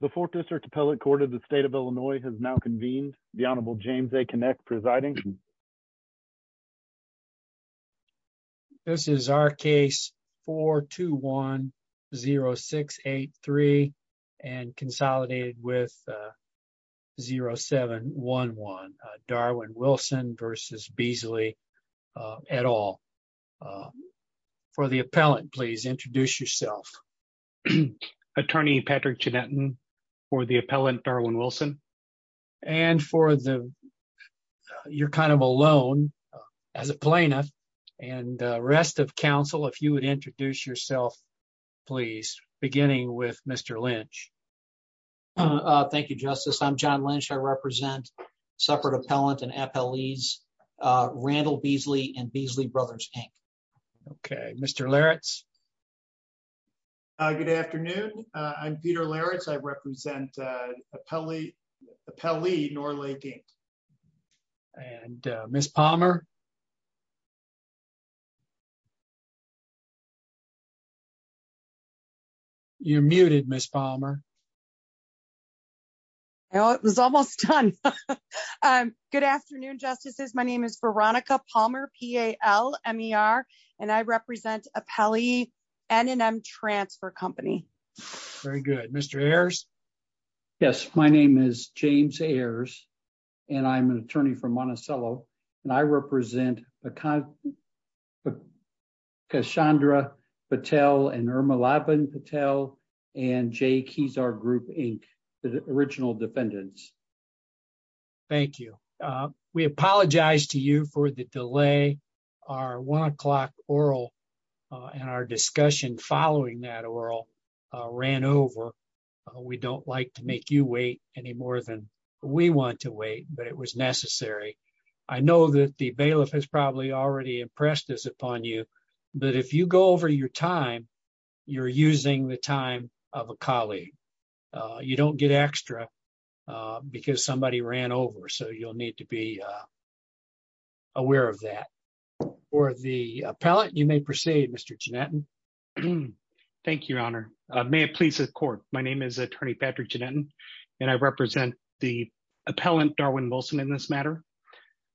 The Fourth District Appellate Court of the State of Illinois has now convened. The Honorable James A. Kinect presiding. This is our case 421-0683 and consolidated with 0711, Darwin Wilson v. Beazly et al. For the appellant, please introduce yourself. I'm Attorney Patrick Chinettan for the appellant, Darwin Wilson. And for the, you're kind of alone, as a plaintiff, and rest of counsel, if you would introduce yourself, please, beginning with Mr. Lynch. Thank you, Justice. I'm John Lynch. I represent separate appellant and appellees, Randall Beazly and Beazly Brothers, Inc. Okay, Mr. Larritz. Good afternoon. I'm Peter Larritz. I represent Appellee Norlay, Inc. And Ms. Palmer? You're muted, Ms. Palmer. Well, it was almost done. Good afternoon, Justices. My name is Veronica Palmer, P-A-L-M-E-R, and I represent Appellee N&M Transfer Company. Yes, my name is James Ayers, and I'm an attorney from Monticello, and I represent Kashandra Patel and Irma Laban Patel and Jay Kezar Group, Inc., the original defendants. Thank you. We apologize to you for the delay. Our one o'clock oral and our discussion following that oral ran over. We don't like to make you wait any more than we want to wait, but it was necessary. I know that the bailiff has probably already impressed us upon you, but if you go over your time, you're using the time of a colleague. You don't get extra because somebody ran over, so you'll need to be aware of that. For the appellate, you may proceed, Mr. Giannetton. Thank you, Your Honor. May it please the Court. My name is Attorney Patrick Giannetton, and I represent the appellant, Darwin Wilson, in this matter.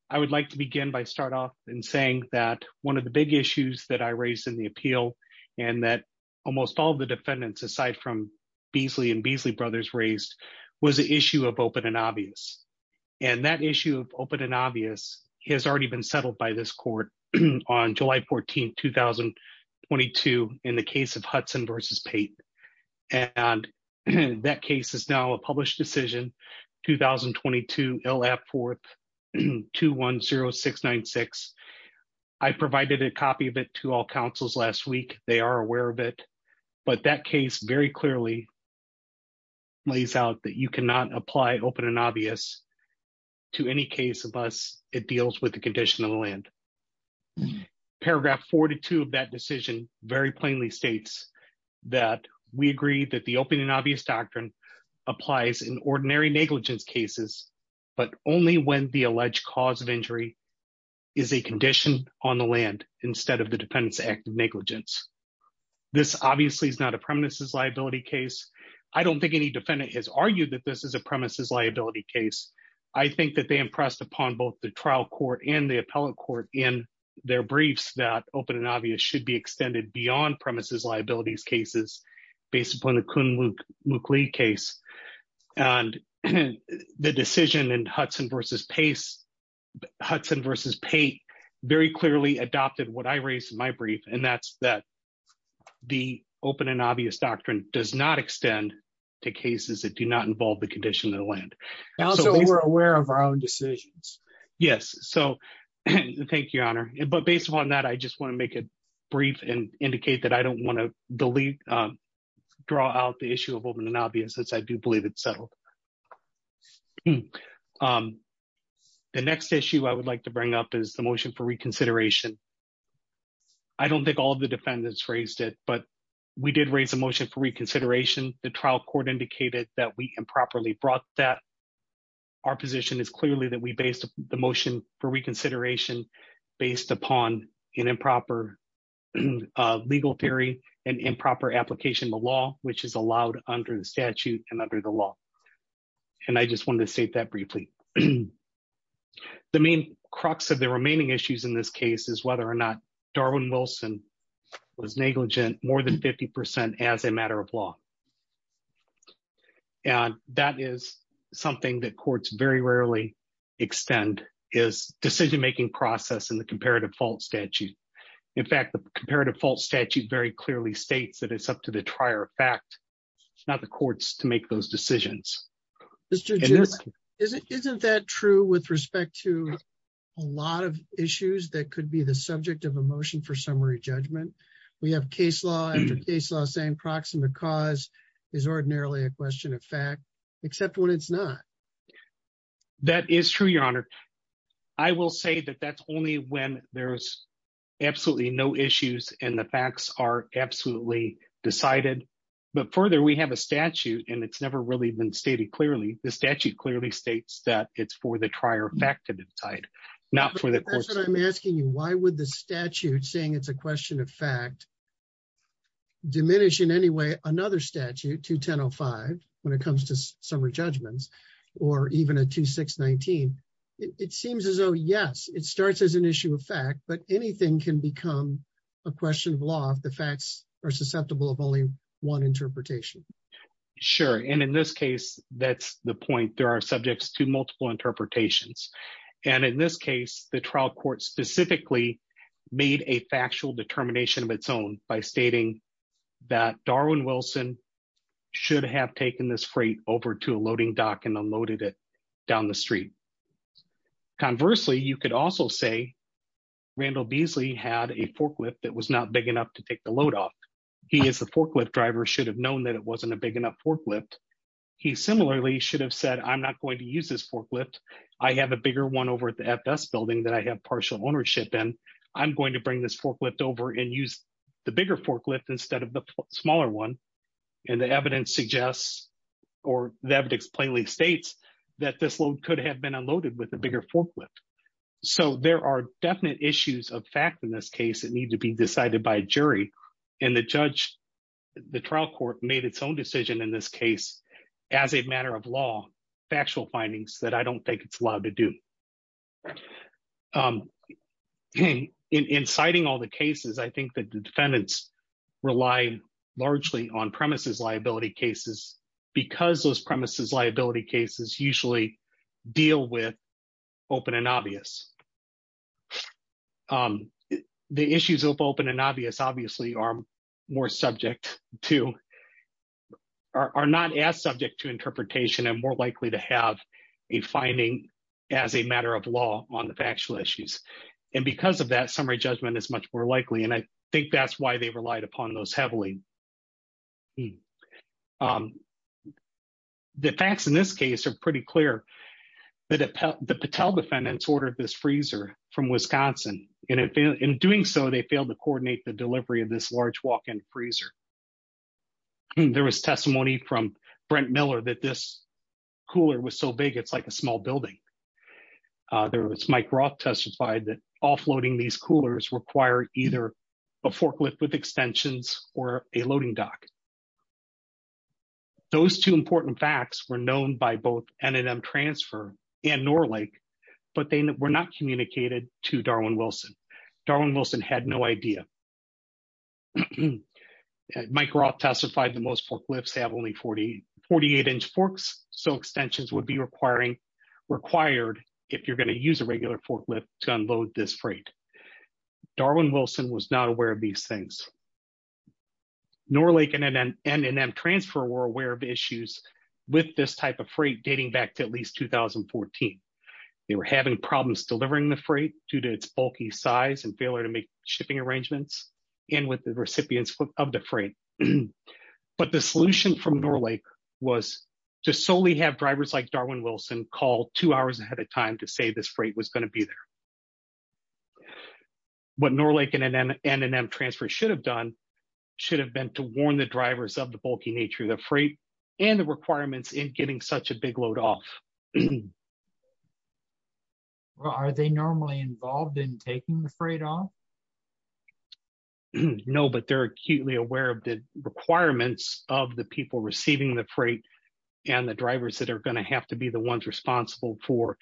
I would like to begin by saying that one of the big issues that I raised in the appeal and that almost all the defendants, aside from Beasley and Beasley Brothers, raised was the issue of open and obvious. And that issue of open and obvious has already been settled by this Court on July 14, 2022, in the case of Hudson v. Payton. And that case is now a published decision, 2022 L.F. 4th 210696. I provided a copy of it to all counsels last week. They are aware of it. But that case very clearly lays out that you cannot apply open and obvious to any case unless it deals with the condition of the land. Paragraph 42 of that decision very plainly states that we agree that the open and obvious doctrine applies in ordinary negligence cases, but only when the alleged cause of injury is a condition on the land instead of the defendant's act of negligence. This obviously is not a premises liability case. I don't think any defendant has argued that this is a premises liability case. I think that they impressed upon both the trial court and the appellate court in their briefs that open and obvious should be extended beyond premises liabilities cases based upon the Kuhn-Mookley case. And the decision in Hudson v. Payton very clearly adopted what I raised in my brief, and that's that the open and obvious doctrine does not extend to cases that do not involve the condition of the land. So we're aware of our own decisions. Yes. So thank you, Your Honor. But based on that, I just want to make it brief and indicate that I don't want to delete, draw out the issue of open and obvious since I do believe it's settled. The next issue I would like to bring up is the motion for reconsideration. I don't think all the defendants raised it, but we did raise a motion for reconsideration. The trial court indicated that we improperly brought that. Our position is clearly that we based the motion for reconsideration based upon an improper legal theory and improper application of the law, which is allowed under the statute and under the law. And I just wanted to state that briefly. The main crux of the remaining issues in this case is whether or not Darwin Wilson was negligent more than 50% as a matter of law. And that is something that courts very rarely extend is decision making process in the comparative fault statute. In fact, the comparative fault statute very clearly states that it's up to the trier fact, not the courts to make those decisions. Isn't that true with respect to a lot of issues that could be the subject of a motion for summary judgment? We have case law and case law saying proximate cause is ordinarily a question of fact, except when it's not. That is true, Your Honor. I will say that that's only when there's absolutely no issues and the facts are absolutely decided. But further, we have a statute and it's never really been stated clearly. The statute clearly states that it's for the trier fact to decide, not for the courts. That's what I'm asking you. Why would the statute saying it's a question of fact diminish in any way another statute 2105 when it comes to summary judgments or even a 2619? It seems as though, yes, it starts as an issue of fact, but anything can become a question of law if the facts are susceptible of only one interpretation. Sure. And in this case, that's the point. There are subjects to multiple interpretations. And in this case, the trial court specifically made a factual determination of its own by stating that Darwin Wilson should have taken this freight over to a loading dock and unloaded it down the street. Conversely, you could also say Randall Beasley had a forklift that was not big enough to take the load off. He is the forklift driver should have known that it wasn't a big enough forklift. He similarly should have said, I'm not going to use this forklift. I have a bigger one over at the FS building that I have partial ownership in. I'm going to bring this forklift over and use the bigger forklift instead of the smaller one. And the evidence suggests or the evidence plainly states that this load could have been unloaded with a bigger forklift. So there are definite issues of fact in this case that need to be decided by a jury. And the judge, the trial court made its own decision in this case, as a matter of law, factual findings that I don't think it's allowed to do. In citing all the cases, I think that the defendants rely largely on premises liability cases, because those premises liability cases usually deal with open and obvious. The issues of open and obvious obviously are more subject to are not as subject to interpretation and more likely to have a finding as a matter of law on the factual issues. And because of that summary judgment is much more likely and I think that's why they relied upon those heavily. The facts in this case are pretty clear that the Patel defendants ordered this freezer from Wisconsin. In doing so, they failed to coordinate the delivery of this large walk-in freezer. There was testimony from Brent Miller that this cooler was so big it's like a small building. There was Mike Roth testified that offloading these coolers require either a forklift with extensions or a loading dock. Those two important facts were known by both N&M Transfer and Norlake, but they were not communicated to Darwin Wilson. Darwin Wilson had no idea. Mike Roth testified that most forklifts have only 48 inch forks, so extensions would be required if you're going to use a regular forklift to unload this freight. Darwin Wilson was not aware of these things. Norlake and N&M Transfer were aware of issues with this type of freight dating back to at least 2014. They were having problems delivering the freight due to its bulky size and failure to make shipping arrangements and with the recipients of the freight. But the solution from Norlake was to solely have drivers like Darwin Wilson call two hours ahead of time to say this freight was going to be there. What Norlake and N&M Transfer should have done should have been to warn the drivers of the bulky nature of the freight and the requirements in getting such a big load off. Are they normally involved in taking the freight off? No, but they're acutely aware of the requirements of the people receiving the freight and the drivers that are going to have to be the ones responsible for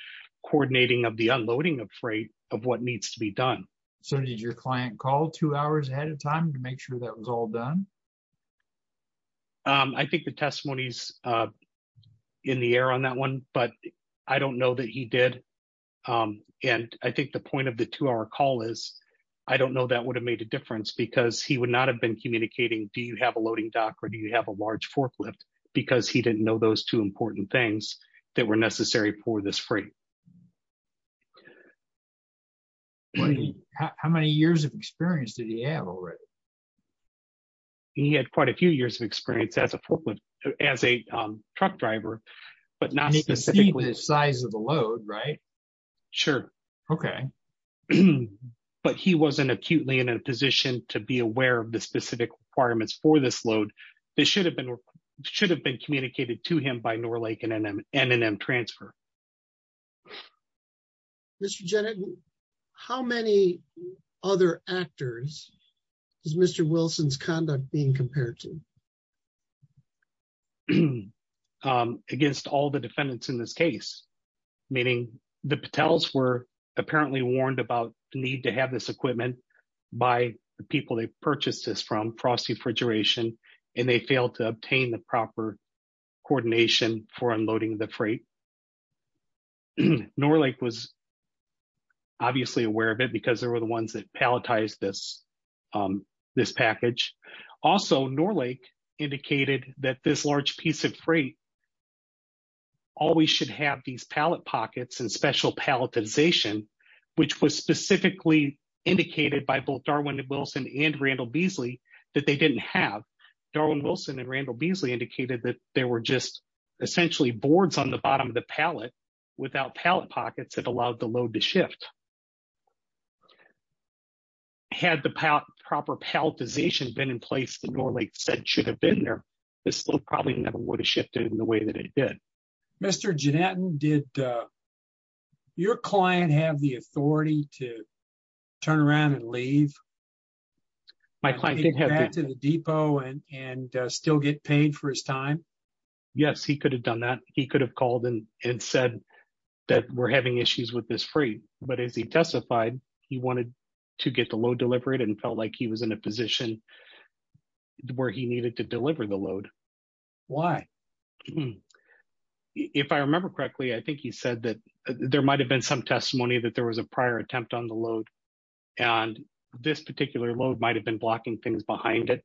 coordinating of the unloading of freight of what needs to be done. So did your client call two hours ahead of time to make sure that was all done? I think the testimony is in the air on that one, but I don't know that he did. And I think the point of the two hour call is, I don't know that would have made a difference because he would not have been communicating, do you have a loading dock or do you have a large forklift, because he didn't know those two important things that were necessary for this freight. How many years of experience did he have already? He had quite a few years of experience as a truck driver, but not specifically. You can see the size of the load, right? Sure. Okay. But he wasn't acutely in a position to be aware of the specific requirements for this load that should have been communicated to him by Norlake and N&M Transfer. Mr. Jennett, how many other actors is Mr. Wilson's conduct being compared to? Against all the defendants in this case, meaning the Patels were apparently warned about the need to have this equipment by the people they purchased this from, Frosty Fridgeration, and they failed to obtain the proper coordination for unloading the freight. Norlake was obviously aware of it because they were the ones that palletized this package. Also, Norlake indicated that this large piece of freight always should have these pallet pockets and special palletization, which was specifically indicated by both Darwin and Wilson and Randall Beasley that they didn't have. Darwin Wilson and Randall Beasley indicated that there were just essentially boards on the bottom of the pallet without pallet pockets that allowed the load to shift. Had the proper palletization been in place that Norlake said should have been there, this load probably never would have shifted in the way that it did. Mr. Jennett, did your client have the authority to turn around and leave? Take back to the depot and still get paid for his time? Yes, he could have done that. He could have called and said that we're having issues with this freight. But as he testified, he wanted to get the load delivered and felt like he was in a position where he needed to deliver the load. Why? If I remember correctly, I think he said that there might have been some testimony that there was a prior attempt on the load. And this particular load might have been blocking things behind it.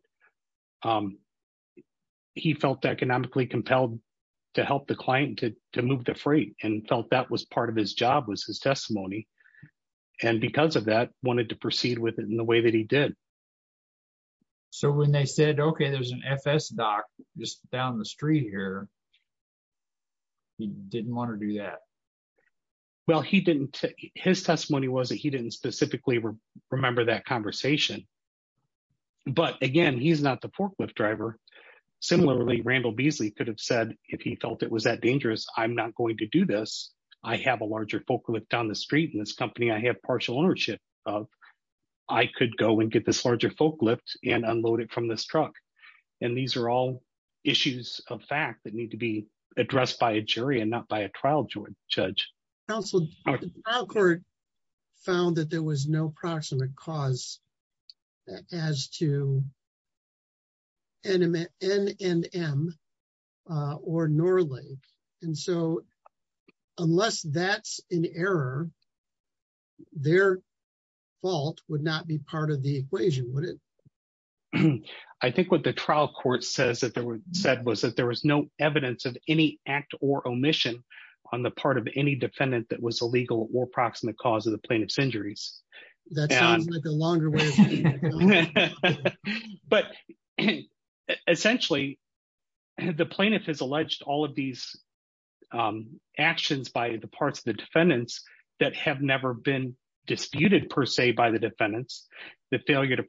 He felt economically compelled to help the client to move the freight and felt that was part of his job was his testimony. And because of that, wanted to proceed with it in the way that he did. So when they said, OK, there's an FS dock just down the street here. He didn't want to do that. Well, he didn't. His testimony was that he didn't specifically remember that conversation. But again, he's not the forklift driver. Similarly, Randall Beasley could have said if he felt it was that dangerous, I'm not going to do this. I have a larger forklift down the street in this company I have partial ownership of. I could go and get this larger forklift and unload it from this truck. And these are all issues of fact that need to be addressed by a jury and not by a trial judge. Court found that there was no proximate cause as to. And in the end, and or normally. And so, unless that's an error. Their fault would not be part of the equation would it. I think what the trial court says that there were said was that there was no evidence of any act or omission on the part of any defendant that was illegal or proximate cause of the plaintiff's injuries. That sounds like a longer way. But, essentially, the plaintiff has alleged all of these actions by the parts of the defendants that have never been disputed per se by the defendants, the failure to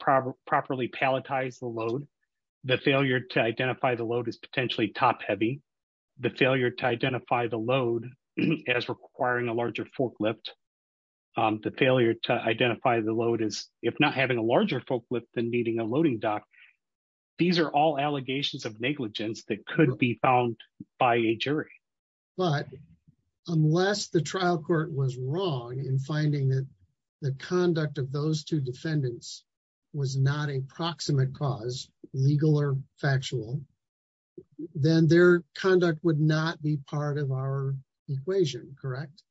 properly palletize the load. The failure to identify the load is potentially top heavy. The failure to identify the load as requiring a larger forklift. The failure to identify the load is, if not having a larger forklift than meeting a loading dock. These are all allegations of negligence that could be found by a jury. But unless the trial court was wrong in finding that the conduct of those two defendants was not a proximate cause legal or factual, then their conduct would not be part of our equation, correct.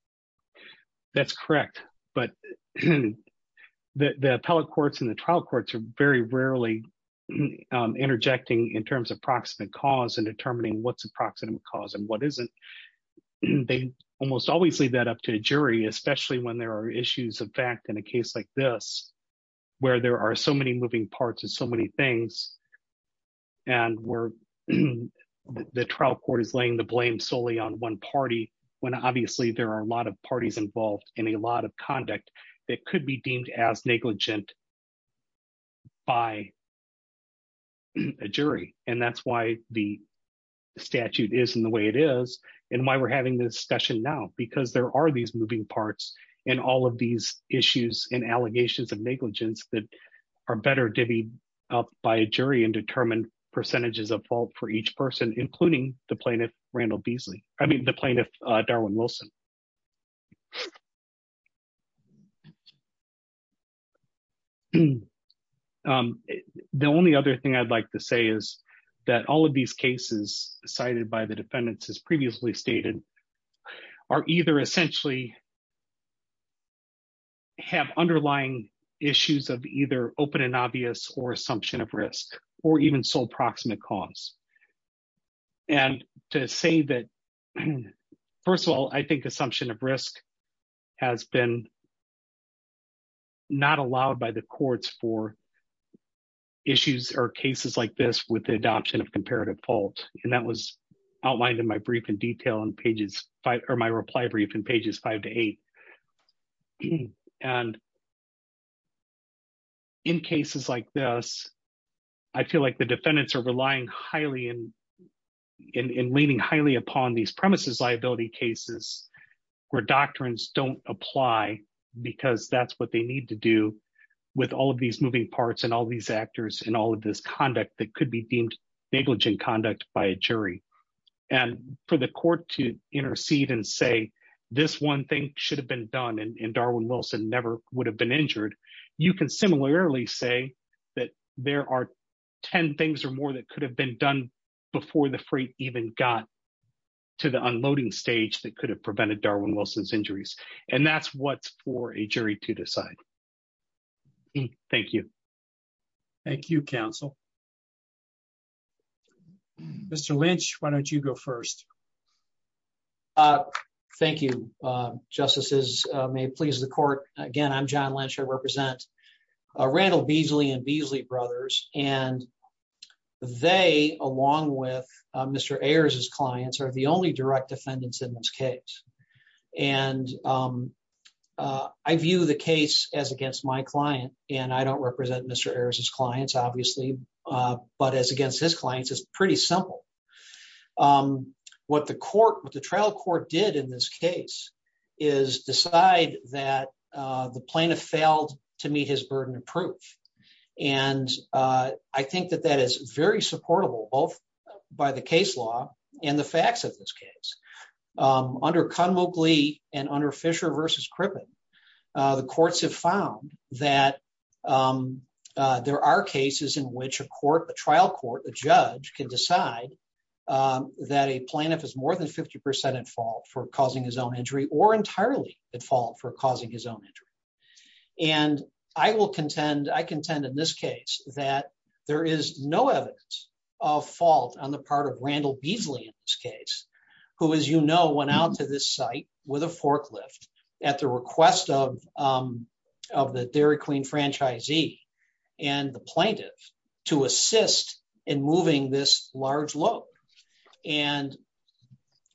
That's correct. But the appellate courts and the trial courts are very rarely interjecting in terms of proximate cause and determining what's a proximate cause and what isn't. They almost always leave that up to a jury, especially when there are issues of fact in a case like this, where there are so many moving parts of so many things. And where the trial court is laying the blame solely on one party when obviously there are a lot of parties involved in a lot of conduct that could be deemed as negligent by a jury. And that's why the statute is in the way it is, and why we're having this session now, because there are these moving parts, and all of these issues and allegations of negligence that are better divvied up by a jury and determined percentages of fault for each person, including the plaintiff, Randall Beasley, I mean the plaintiff, Darwin Wilson. The only other thing I'd like to say is that all of these cases cited by the defendants as previously stated are either essentially have underlying issues of either open and obvious or assumption of risk, or even sole proximate cause. And to say that, first of all, I think assumption of risk has been not allowed by the courts for issues or cases like this with the adoption of comparative fault. And that was outlined in my brief in detail in pages five, or my reply brief in pages five to eight. And in cases like this, I feel like the defendants are relying highly in leaning highly upon these premises liability cases where doctrines don't apply, because that's what they need to do with all of these moving parts and all these actors and all of this conduct that could be deemed negligent conduct by a jury. And for the court to intercede and say, this one thing should have been done and Darwin Wilson never would have been injured. You can similarly say that there are 10 things or more that could have been done before the freight even got to the unloading stage that could have prevented Darwin Wilson's injuries, and that's what's for a jury to decide. Thank you. Thank you, counsel. Mr Lynch, why don't you go first. Thank you, justices may please the court. Again, I'm john Lynch I represent a rental Beasley and Beasley brothers, and they, along with Mr errors as clients are the only direct defendants in this case. And I view the case as against my client, and I don't represent Mr errors as clients, obviously, but as against his clients is pretty simple. What the court with the trial court did in this case is decide that the plaintiff failed to meet his burden of proof. And I think that that is very supportable both by the case law, and the facts of this case. Under convict Lee and under Fisher versus crippling the courts have found that there are cases in which a court a trial court, a judge can decide that a plaintiff is more than 50% at fault for causing his own injury or entirely at fault for causing his own injury. And I will contend I contend in this case that there is no evidence of fault on the part of Randall Beasley case, who is you know went out to this site with a forklift at the request of, of the Dairy Queen franchisee, and the plaintiff to assist in moving this large load. And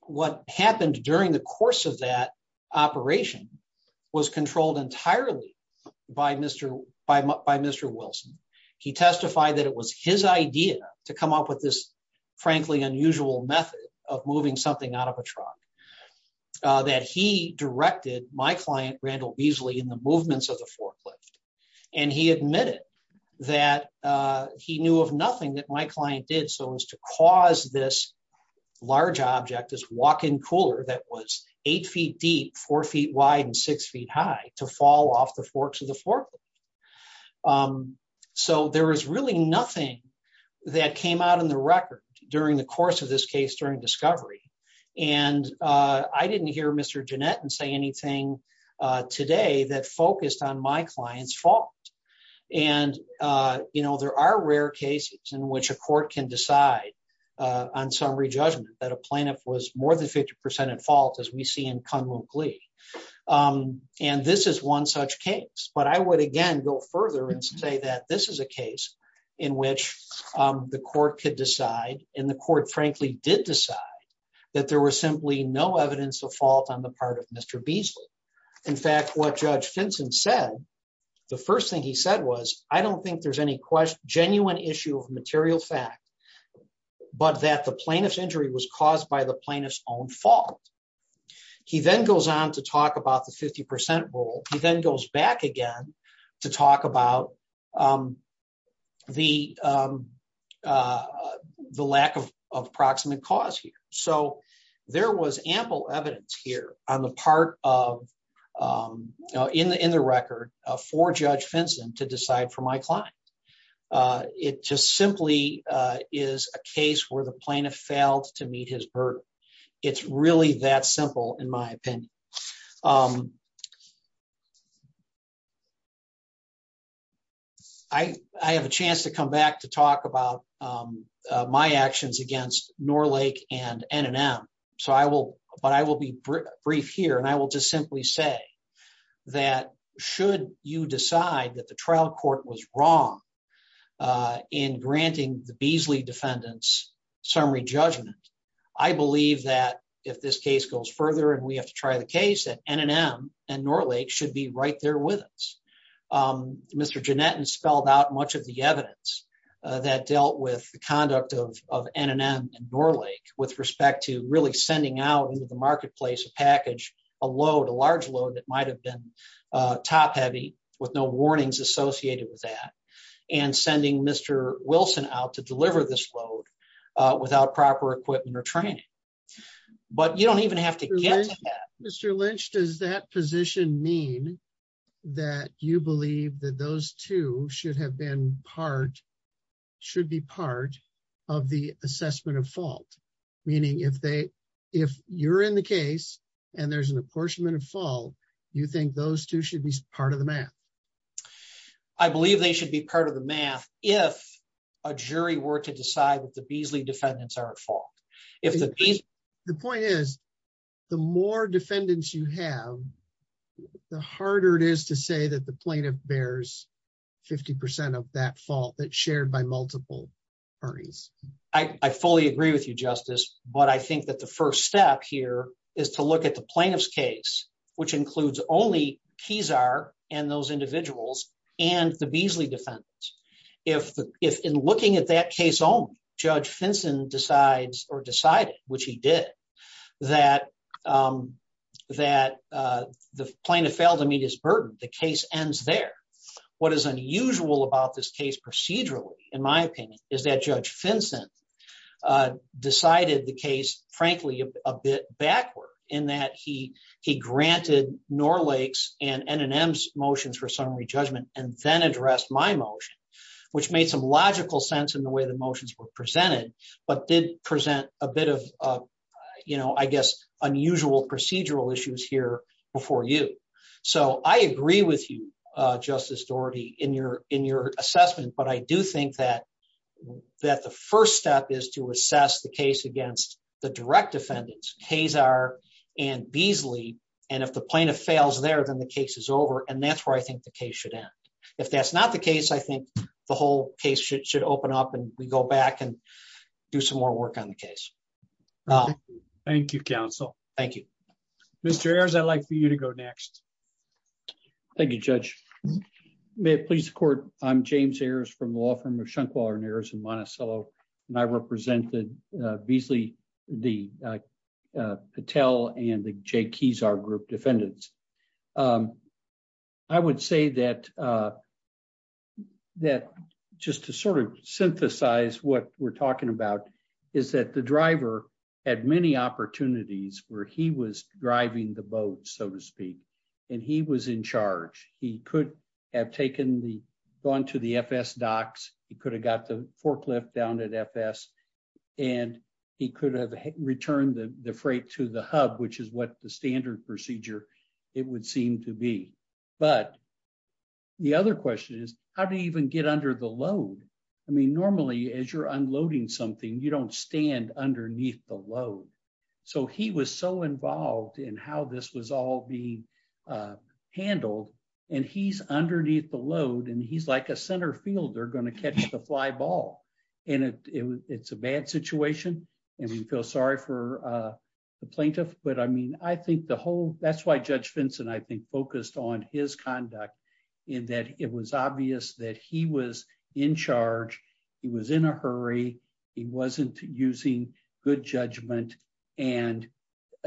what happened during the course of that operation was controlled entirely by Mr. By Mr Wilson, he testified that it was his idea to come up with this, frankly unusual method of moving something out of a truck that he directed my client Randall Beasley in the movements of the forklift, and he admitted that he knew of nothing that my client did so as to cause this large object is walking cooler that was eight feet deep four feet wide and six feet high to fall off the forks of the forklift. So there was really nothing that came out in the record. During the course of this case during discovery, and I didn't hear Mr. Jeanette and say anything today that focused on my clients fault. And, you know, there are rare cases in which a court can decide on summary judgment that a plaintiff was more than 50% at fault as we see in common glee. And this is one such case, but I would again go further and say that this is a case in which the court could decide in the court frankly did decide that there was simply no evidence of fault on the part of Mr. Beasley. In fact, what Judge Vincent said. The first thing he said was, I don't think there's any question genuine issue of material fact, but that the plaintiff's injury was caused by the plaintiff's own fault. He then goes on to talk about the 50% rule, he then goes back again to talk about the, the lack of approximate cause here. So, there was ample evidence here on the part of in the in the record for Judge Vincent to decide for my client. It just simply is a case where the plaintiff failed to meet his bird. It's really that simple, in my opinion, I have a chance to come back to talk about my actions against Norlake and NNM, so I will, but I will be brief here and I will just simply say that should you decide that the trial court was wrong in granting the Beasley defendants summary judgment. I believe that if this case goes further and we have to try the case at NNM and Norlake should be right there with us. Mr. Jannett and spelled out much of the evidence that dealt with the conduct of NNM and Norlake with respect to really sending out into the marketplace package, a load a large load that might have been top heavy with no warnings associated with that, and sending Mr. Wilson out to deliver this load without proper equipment or training. But you don't even have to get Mr Lynch does that position mean that you believe that those two should have been part should be part of the assessment of fault, meaning if they if you're in the case, and there's an apportionment of fall. You think those two should be part of the math. I believe they should be part of the math. If a jury were to decide that the Beasley defendants are at fault. If the point is, the more defendants you have, the harder it is to say that the plaintiff bears 50% of that fault that shared by multiple parties. I fully agree with you justice, but I think that the first step here is to look at the plaintiff's case, which includes only keys are, and those individuals, and the Beasley defense. If, if in looking at that case own judge Finson decides or decided, which he did that, that the plaintiff failed to meet his burden the case ends there. What is unusual about this case procedurally, in my opinion, is that judge Finson decided the case, frankly, a bit backward, in that he he granted nor lakes and and and m's motions for summary judgment, and then address my motion, which made some logical sense in the way the motions were presented, but did present a bit of, you know, I guess, unusual procedural issues here before you. So I agree with you, Justice Doherty in your, in your assessment but I do think that that the first step is to assess the case against the direct defendants case are, and Beasley, and if the plaintiff fails there then the case is over and that's where I think the case should end. If that's not the case I think the whole case should should open up and we go back and do some more work on the case. Thank you counsel. Thank you, Mr airs I'd like for you to go next. Thank you, Judge. May it please the court. I'm James Ayers from the law firm of Shunkwaller and Ayers in Monticello, and I represented Beasley, the Patel and the Jake he's our group defendants. I would say that that just to sort of synthesize what we're talking about is that the driver had many opportunities where he was driving the boat, so to speak, and he was in charge, he could have taken the gone to the FS docs, he could have got the it would seem to be. But the other question is, how do you even get under the load. I mean normally as you're unloading something you don't stand underneath the load. So he was so involved in how this was all being handled, and he's underneath the load and he's like a center fielder going to catch the fly ball, and it's a bad situation. And we feel sorry for the plaintiff, but I mean I think the whole, that's why Judge Vincent I think focused on his conduct in that it was obvious that he was in charge. He was in a hurry. He wasn't using good judgment, and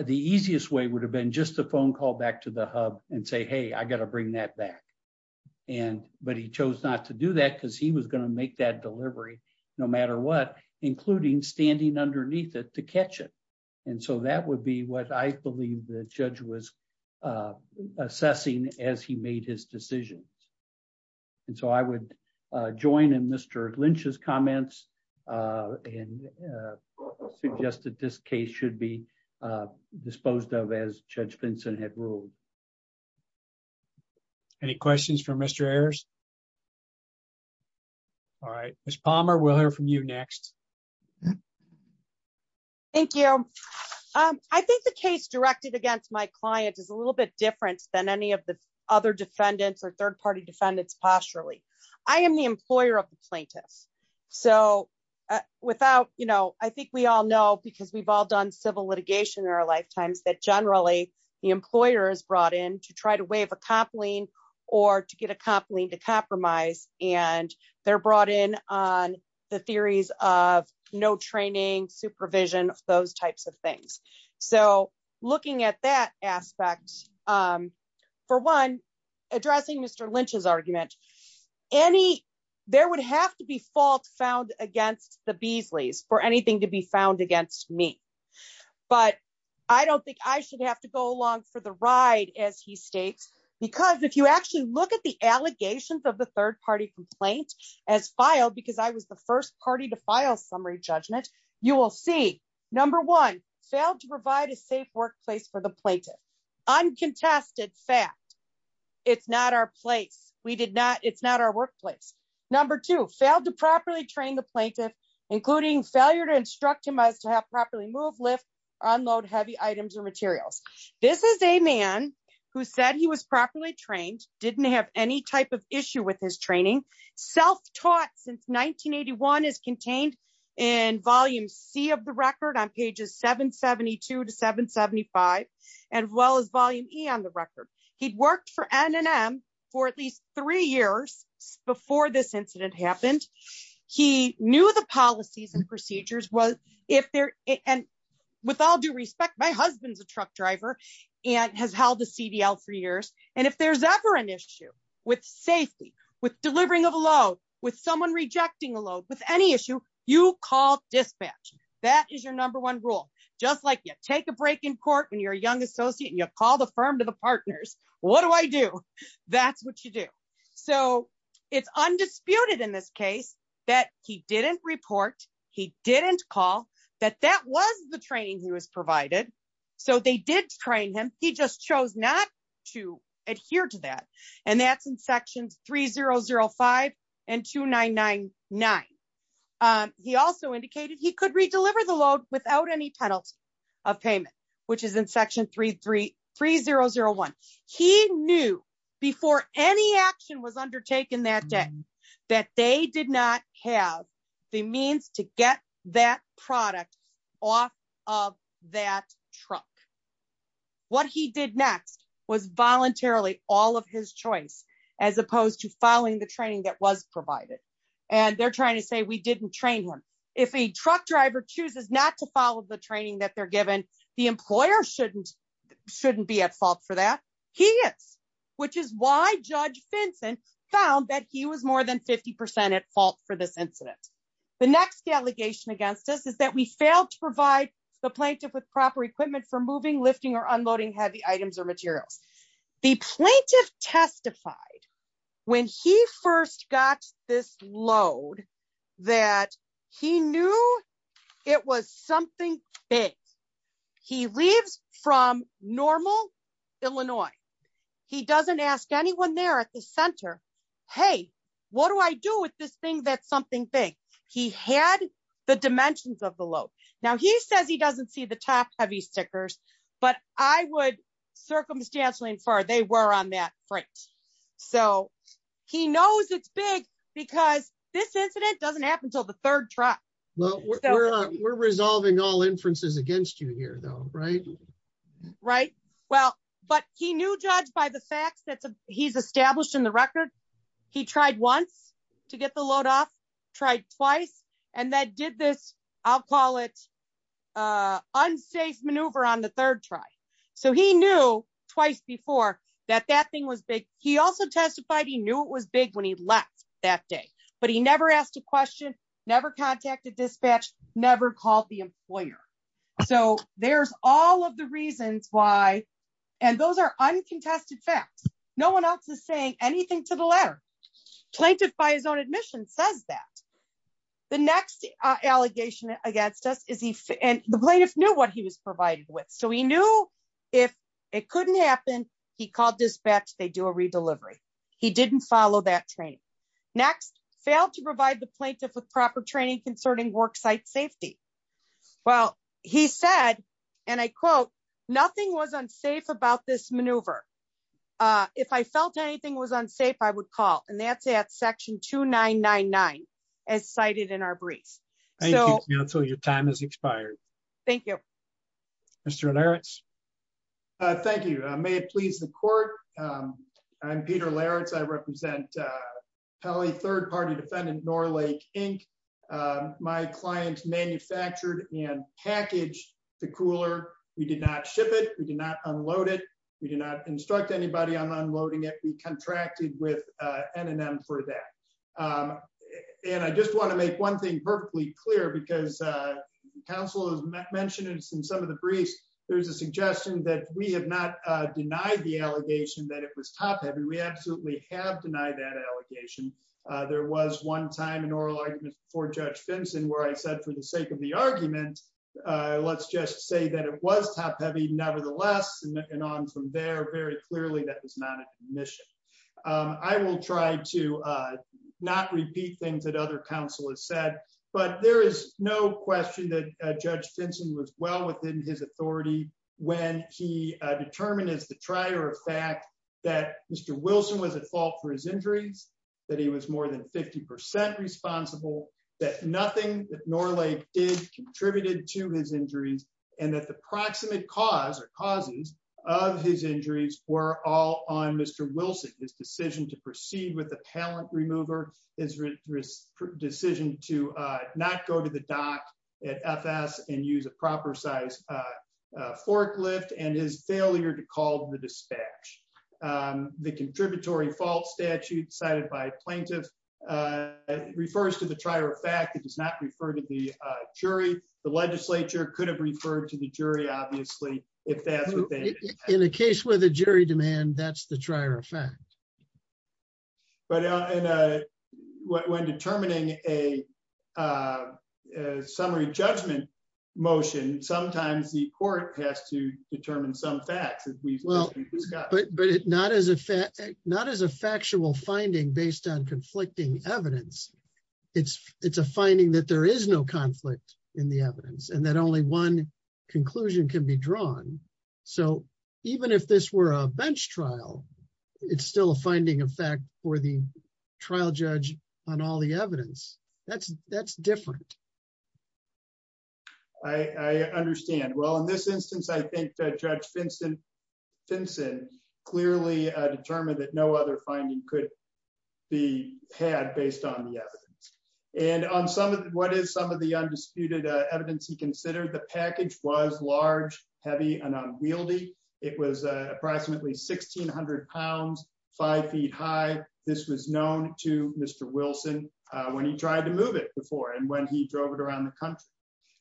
the easiest way would have been just a phone call back to the hub and say hey I got to bring that back. And, but he chose not to do that because he was going to make that delivery, no matter what, including standing underneath it to catch it. And so that would be what I believe the judge was assessing as he made his decision. And so I would join in Mr. Lynch's comments and suggested this case should be disposed of as Judge Vincent had ruled. Any questions for Mr. Ayers. All right, Miss Palmer we'll hear from you next. Thank you. I think the case directed against my client is a little bit different than any of the other defendants or third party defendants posturally. I am the employer of the plaintiffs. So, without, you know, I think we all know because we've all done civil litigation in our lifetimes that generally the employer is brought in to try to waive a comp lien, or to get a comp lien to compromise, and they're brought in on the theories of no training supervision, those types of things. So, looking at that aspect. For one, addressing Mr Lynch's argument. Any, there would have to be fault found against the Beasley's for anything to be found against me. But I don't think I should have to go along for the ride, as he states, because if you actually look at the allegations of the third party complaint as filed because I was the first party to file summary judgment, you will see. Number one, failed to provide a safe workplace for the plaintiff. Uncontested fact. It's not our place, we did not, it's not our workplace. Number two, failed to properly train the plaintiff, including failure to instruct him as to have properly move lift unload heavy items or materials. This is a man who said he was properly trained, didn't have any type of issue with his training self taught since 1981 is contained in Volume C of the record on pages 772 to 775, as well as Volume E on the record. He'd worked for NNM for at least three years before this incident happened. He knew the policies and procedures was, if there, and with all due respect my husband's a truck driver, and has held a CDL for years, and if there's ever an issue with safety with delivering of a load with someone rejecting a load with any issue, you call dispatch. That is your number one rule, just like you take a break in court when you're a young associate you call the firm to the partners, what do I do. That's what you do. So, it's undisputed in this case that he didn't report. He didn't call that that was the training he was provided. So they did train him, he just chose not to adhere to that. And that's in sections 3005 and 2999. He also indicated he could redeliver the load without any penalty of payment, which is in section 33 3001, he knew before any action was undertaken that day that they did not have the means to get that product off of that truck. What he did next was voluntarily all of his choice, as opposed to following the training that was provided, and they're trying to say we didn't train him. If a truck driver chooses not to follow the training that they're given the employer shouldn't shouldn't be at fault for that. He is, which is why Judge Vincent found that he was more than 50% at fault for this incident. The next allegation against us is that we failed to provide the plaintiff with proper equipment for moving lifting or unloading heavy items or materials. The plaintiff testified when he first got this load that he knew it was something big. He leaves from normal, Illinois. He doesn't ask anyone there at the center. Hey, what do I do with this thing that's something big. He had the dimensions of the load. Now he says he doesn't see the top heavy stickers, but I would circumstantially infer they were on that front. So, he knows it's big, because this incident doesn't happen till the third truck. We're resolving all inferences against you here though, right. Right. Well, but he knew judged by the facts that he's established in the record. He tried once to get the load off tried twice, and that did this. I'll call it unsafe maneuver on the third try. So he knew twice before that that thing was big. He also testified he knew it was big when he left that day, but he never asked a question, never contacted dispatch, never called the employer. So, there's all of the reasons why. And those are uncontested facts, no one else is saying anything to the letter plaintiff by his own admission says that the next allegation against us is he and the plaintiff knew what he was provided with so we knew if it couldn't happen. He called dispatch they do a redelivery. He didn't follow that train. Next, failed to provide the plaintiff with proper training concerning worksite safety. Well, he said, and I quote, nothing was unsafe about this maneuver. If I felt anything was unsafe I would call and that's at section 2999 as cited in our brief. So your time has expired. Thank you. Mr. Lawrence. Thank you. May it please the court. I'm Peter Lawrence I represent Kelly third party defendant nor Lake, Inc. My client manufactured and package, the cooler. We did not ship it, we did not unload it. We did not instruct anybody on unloading it we contracted with NNM for that. And I just want to make one thing perfectly clear because counsel has mentioned in some of the briefs, there's a suggestion that we have not denied the allegation that it was top heavy we absolutely have denied that allegation. There was one time in oral argument for Judge Benson where I said for the sake of the argument. Let's just say that it was top heavy nevertheless and on from there very clearly that was not a mission. I will try to not repeat things that other counsel has said, but there is no question that Judge Benson was well within his authority, when he determined as the trier of fact that Mr. Wilson was at fault for his injuries, that he was more than 50% responsible that nothing nor late did contributed to his injuries, and that the proximate cause or causes of his injuries were all on Mr. Wilson his decision to proceed with the talent remover is risk decision to not go to the dock at FS and use a proper size forklift and his failure to call the dispatch the contributory false statute cited by plaintiff refers to the trier of fact it does not refer to the jury, the legislature could have referred to the jury, obviously, if that's in a case where the jury demand that's the trier of fact. But when determining a summary judgment motion, sometimes the court has to determine some facts that we've got but but it not as a fact, not as a factual finding based on conflicting evidence. It's, it's a finding that there is no conflict in the evidence and that only one conclusion can be drawn. So, even if this were a bench trial. It's still a finding of fact for the trial judge on all the evidence that's that's different. I understand well in this instance I think that judge Vincent Vincent clearly determined that no other finding could be had based on the evidence, and on some of what is some of the undisputed evidence he considered the package was large, heavy and unwieldy. It was approximately 1600 pounds, five feet high. This was known to Mr. Wilson, when he tried to move it before and when he drove it around the country,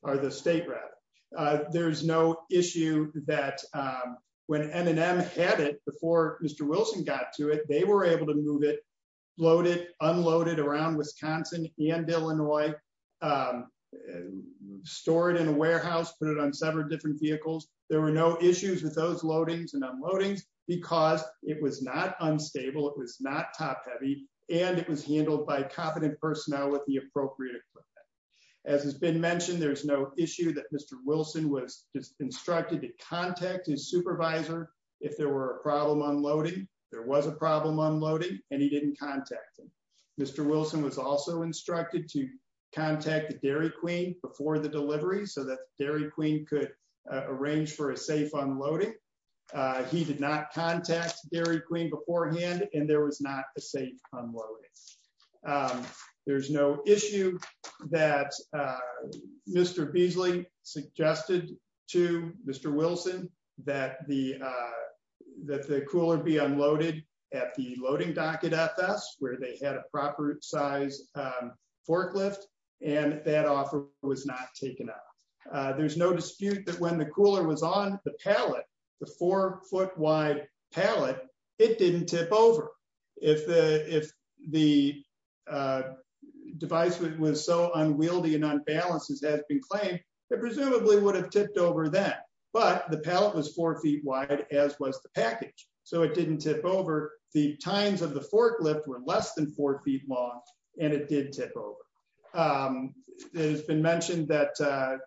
or the state rather. There's no issue that when M&M had it before Mr. Wilson got to it, they were able to move it loaded unloaded around Wisconsin and Illinois. Store it in a warehouse put it on several different vehicles. There were no issues with those loadings and unloadings, because it was not unstable it was not top heavy, and it was handled by competent personnel with the appropriate. As has been mentioned, there's no issue that Mr. Wilson was instructed to contact his supervisor. If there were a problem unloading, there was a problem unloading, and he didn't contact him. Mr. Wilson was also instructed to contact the Dairy Queen before the delivery so that Dairy Queen could arrange for a safe unloading. He did not contact Dairy Queen beforehand, and there was not a safe unloading. There's no issue that Mr. Beasley suggested to Mr. Wilson that the that the cooler be unloaded at the loading docket FS where they had a proper size forklift, and that offer was not taken up. There's no dispute that when the cooler was on the pallet, the four foot wide pallet, it didn't tip over. If the if the device was so unwieldy and unbalanced as has been claimed, it presumably would have tipped over then. But the pallet was four feet wide, as was the package, so it didn't tip over. The tines of the forklift were less than four feet long, and it did tip over. It has been mentioned that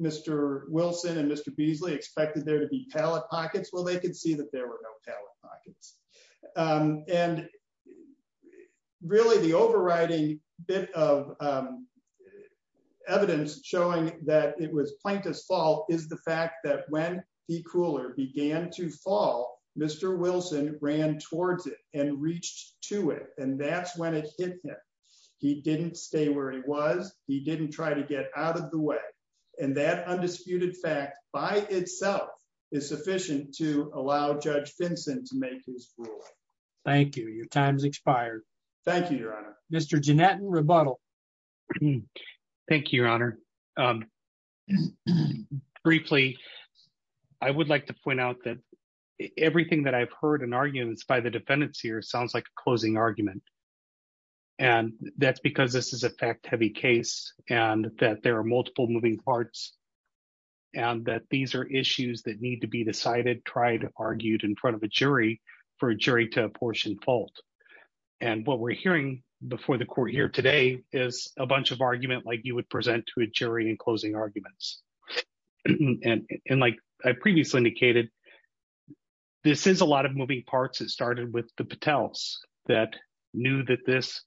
Mr. Wilson and Mr. Beasley expected there to be pallet pockets. Well, they could see that there were no pallet pockets, and really the overriding bit of evidence showing that it was plaintiff's fault is the fact that when the cooler began to fall, Mr. Wilson ran towards it and reached to it. And that's when it hit him. He didn't stay where he was. He didn't try to get out of the way. And that undisputed fact by itself is sufficient to allow Judge Vincent to make his ruling. Thank you. Your time's expired. Thank you, Your Honor, Mr. Jeanette and rebuttal. Thank you, Your Honor. Briefly, I would like to point out that everything that I've heard in arguments by the defendants here sounds like a closing argument. And that's because this is a fact heavy case, and that there are multiple moving parts, and that these are issues that need to be decided, tried, argued in front of a jury for a jury to apportion fault. And what we're hearing before the court here today is a bunch of argument like you would present to a jury in closing arguments. And like I previously indicated, this is a lot of moving parts that started with the Patels that knew that this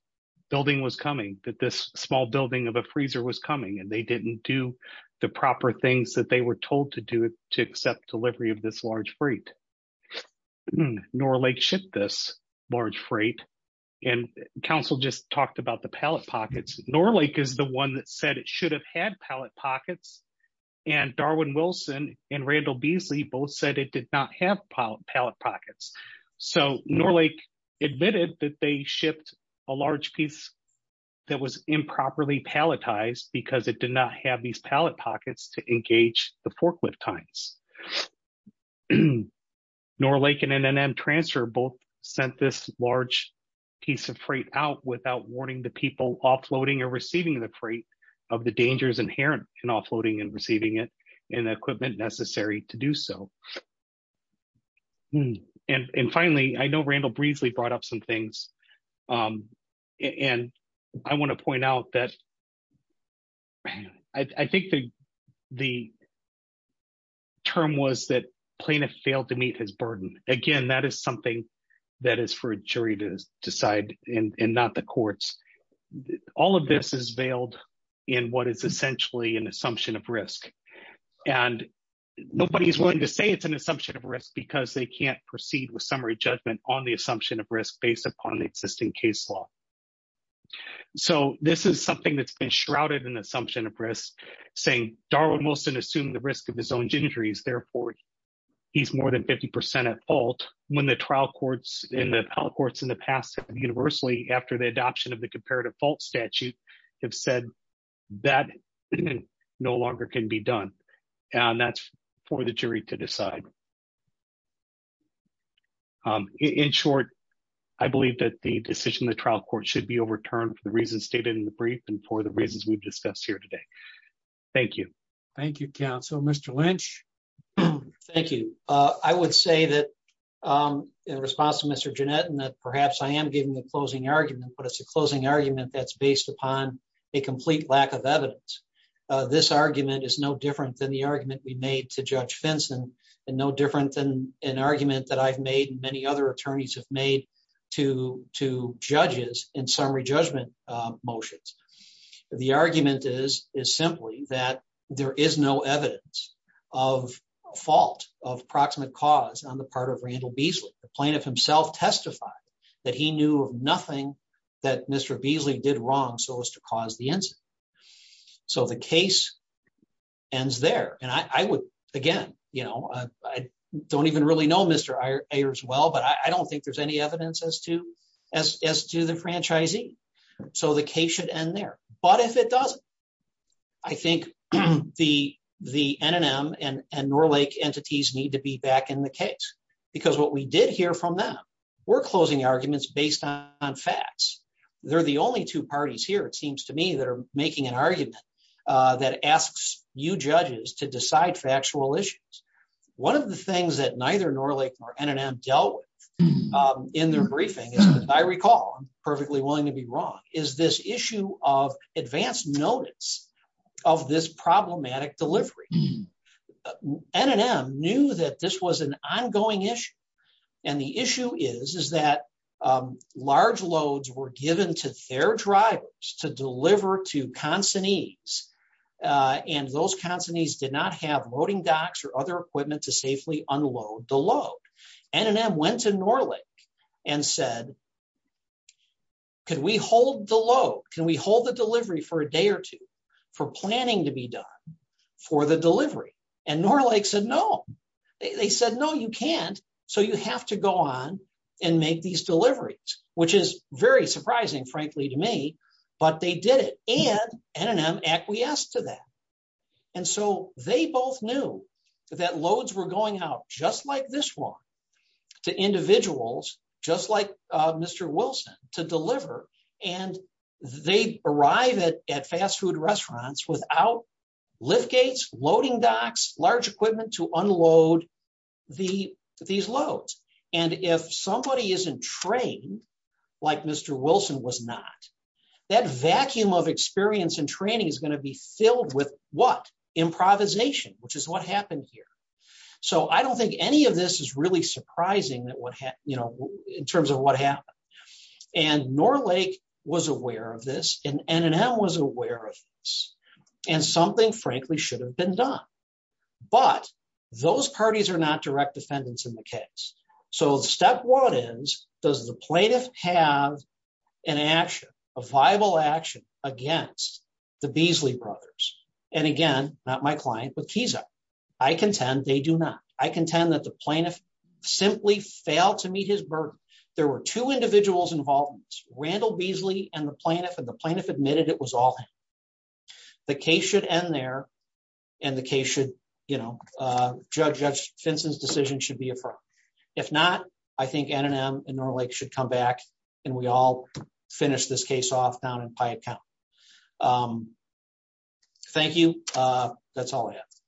building was coming, that this small building of a freezer was coming and they didn't do the proper things that they were told to do to accept delivery of this large freight. Norlake shipped this large freight, and counsel just talked about the pallet pockets. Norlake is the one that said it should have had pallet pockets, and Darwin Wilson and Randall Beasley both said it did not have pallet pockets. So Norlake admitted that they shipped a large piece that was improperly palletized because it did not have these pallet pockets to engage the forklift times. Norlake and NNM Transfer both sent this large piece of freight out without warning the people offloading or receiving the freight of the dangers inherent in offloading and receiving it and the equipment necessary to do so. And finally, I know Randall Beasley brought up some things, and I want to point out that I think the term was that plaintiff failed to meet his burden. Again, that is something that is for a jury to decide and not the courts. All of this is veiled in what is essentially an assumption of risk, and nobody is willing to say it's an assumption of risk because they can't proceed with summary judgment on the assumption of risk based upon the existing case law. So this is something that's been shrouded in the assumption of risk, saying Darwin Wilson assumed the risk of his own injuries, therefore he's more than 50% at fault when the trial courts and the trial courts in the past universally after the adoption of the comparative fault statute have said that no longer can be done. And that's for the jury to decide. In short, I believe that the decision the trial court should be overturned for the reasons stated in the brief and for the reasons we've discussed here today. Thank you. Thank you, Council, Mr Lynch. Thank you. I would say that in response to Mr Jeanette and that perhaps I am giving the closing argument but it's a closing argument that's based upon a complete lack of evidence. This argument is no different than the argument we made to judge fence and no different than an argument that I've made many other attorneys have made to to judges in summary judgment motions. The argument is, is simply that there is no evidence of fault of proximate cause on the part of Randall Beasley, the plaintiff himself testified that he knew nothing that Mr Beasley did wrong so as to cause the answer. So the case ends there and I would, again, you know, I don't even really know Mr as well but I don't think there's any evidence as to as to the franchisee. So the case should end there. But if it does. I think the the NNM and and Norlake entities need to be back in the case, because what we did hear from them. We're closing arguments based on facts. They're the only two parties here it seems to me that are making an argument that asks you judges to decide factual issues. One of the things that neither Norlake or NNM dealt with in their briefing, as I recall, perfectly willing to be wrong, is this issue of advanced notice of this problematic delivery NNM knew that this was an ongoing issue. And the issue is, is that large loads were given to their drivers to deliver to consignees. And those consignees did not have loading docks or other equipment to safely unload the load. NNM went to Norlake and said, could we hold the load, can we hold the delivery for a day or two for planning to be done for the delivery and Norlake said no. They said no you can't. So you have to go on and make these deliveries, which is very surprising frankly to me, but they did it and NNM acquiesced to that. And so they both knew that loads were going out just like this one to individuals, just like Mr. Wilson, to deliver, and they arrive at fast food restaurants without lift gates, loading docks, large equipment to unload these loads. And if somebody isn't trained, like Mr. Wilson was not, that vacuum of experience and training is going to be filled with what? Improvisation, which is what happened here. So I don't think any of this is really surprising in terms of what happened. And Norlake was aware of this, and NNM was aware of this, and something frankly should have been done. But those parties are not direct defendants in the case. So step one is, does the plaintiff have an action, a viable action against the Beasley brothers? And again, not my client, but Kisa. I contend they do not. I contend that the plaintiff simply failed to meet his burden. There were two individuals involved, Randall Beasley and the plaintiff, and the plaintiff admitted it was all him. The case should end there, and the case should, you know, Judge Finson's decision should be affirmed. If not, I think NNM and Norlake should come back, and we all finish this case off down in Pye County. Thank you. That's all I have.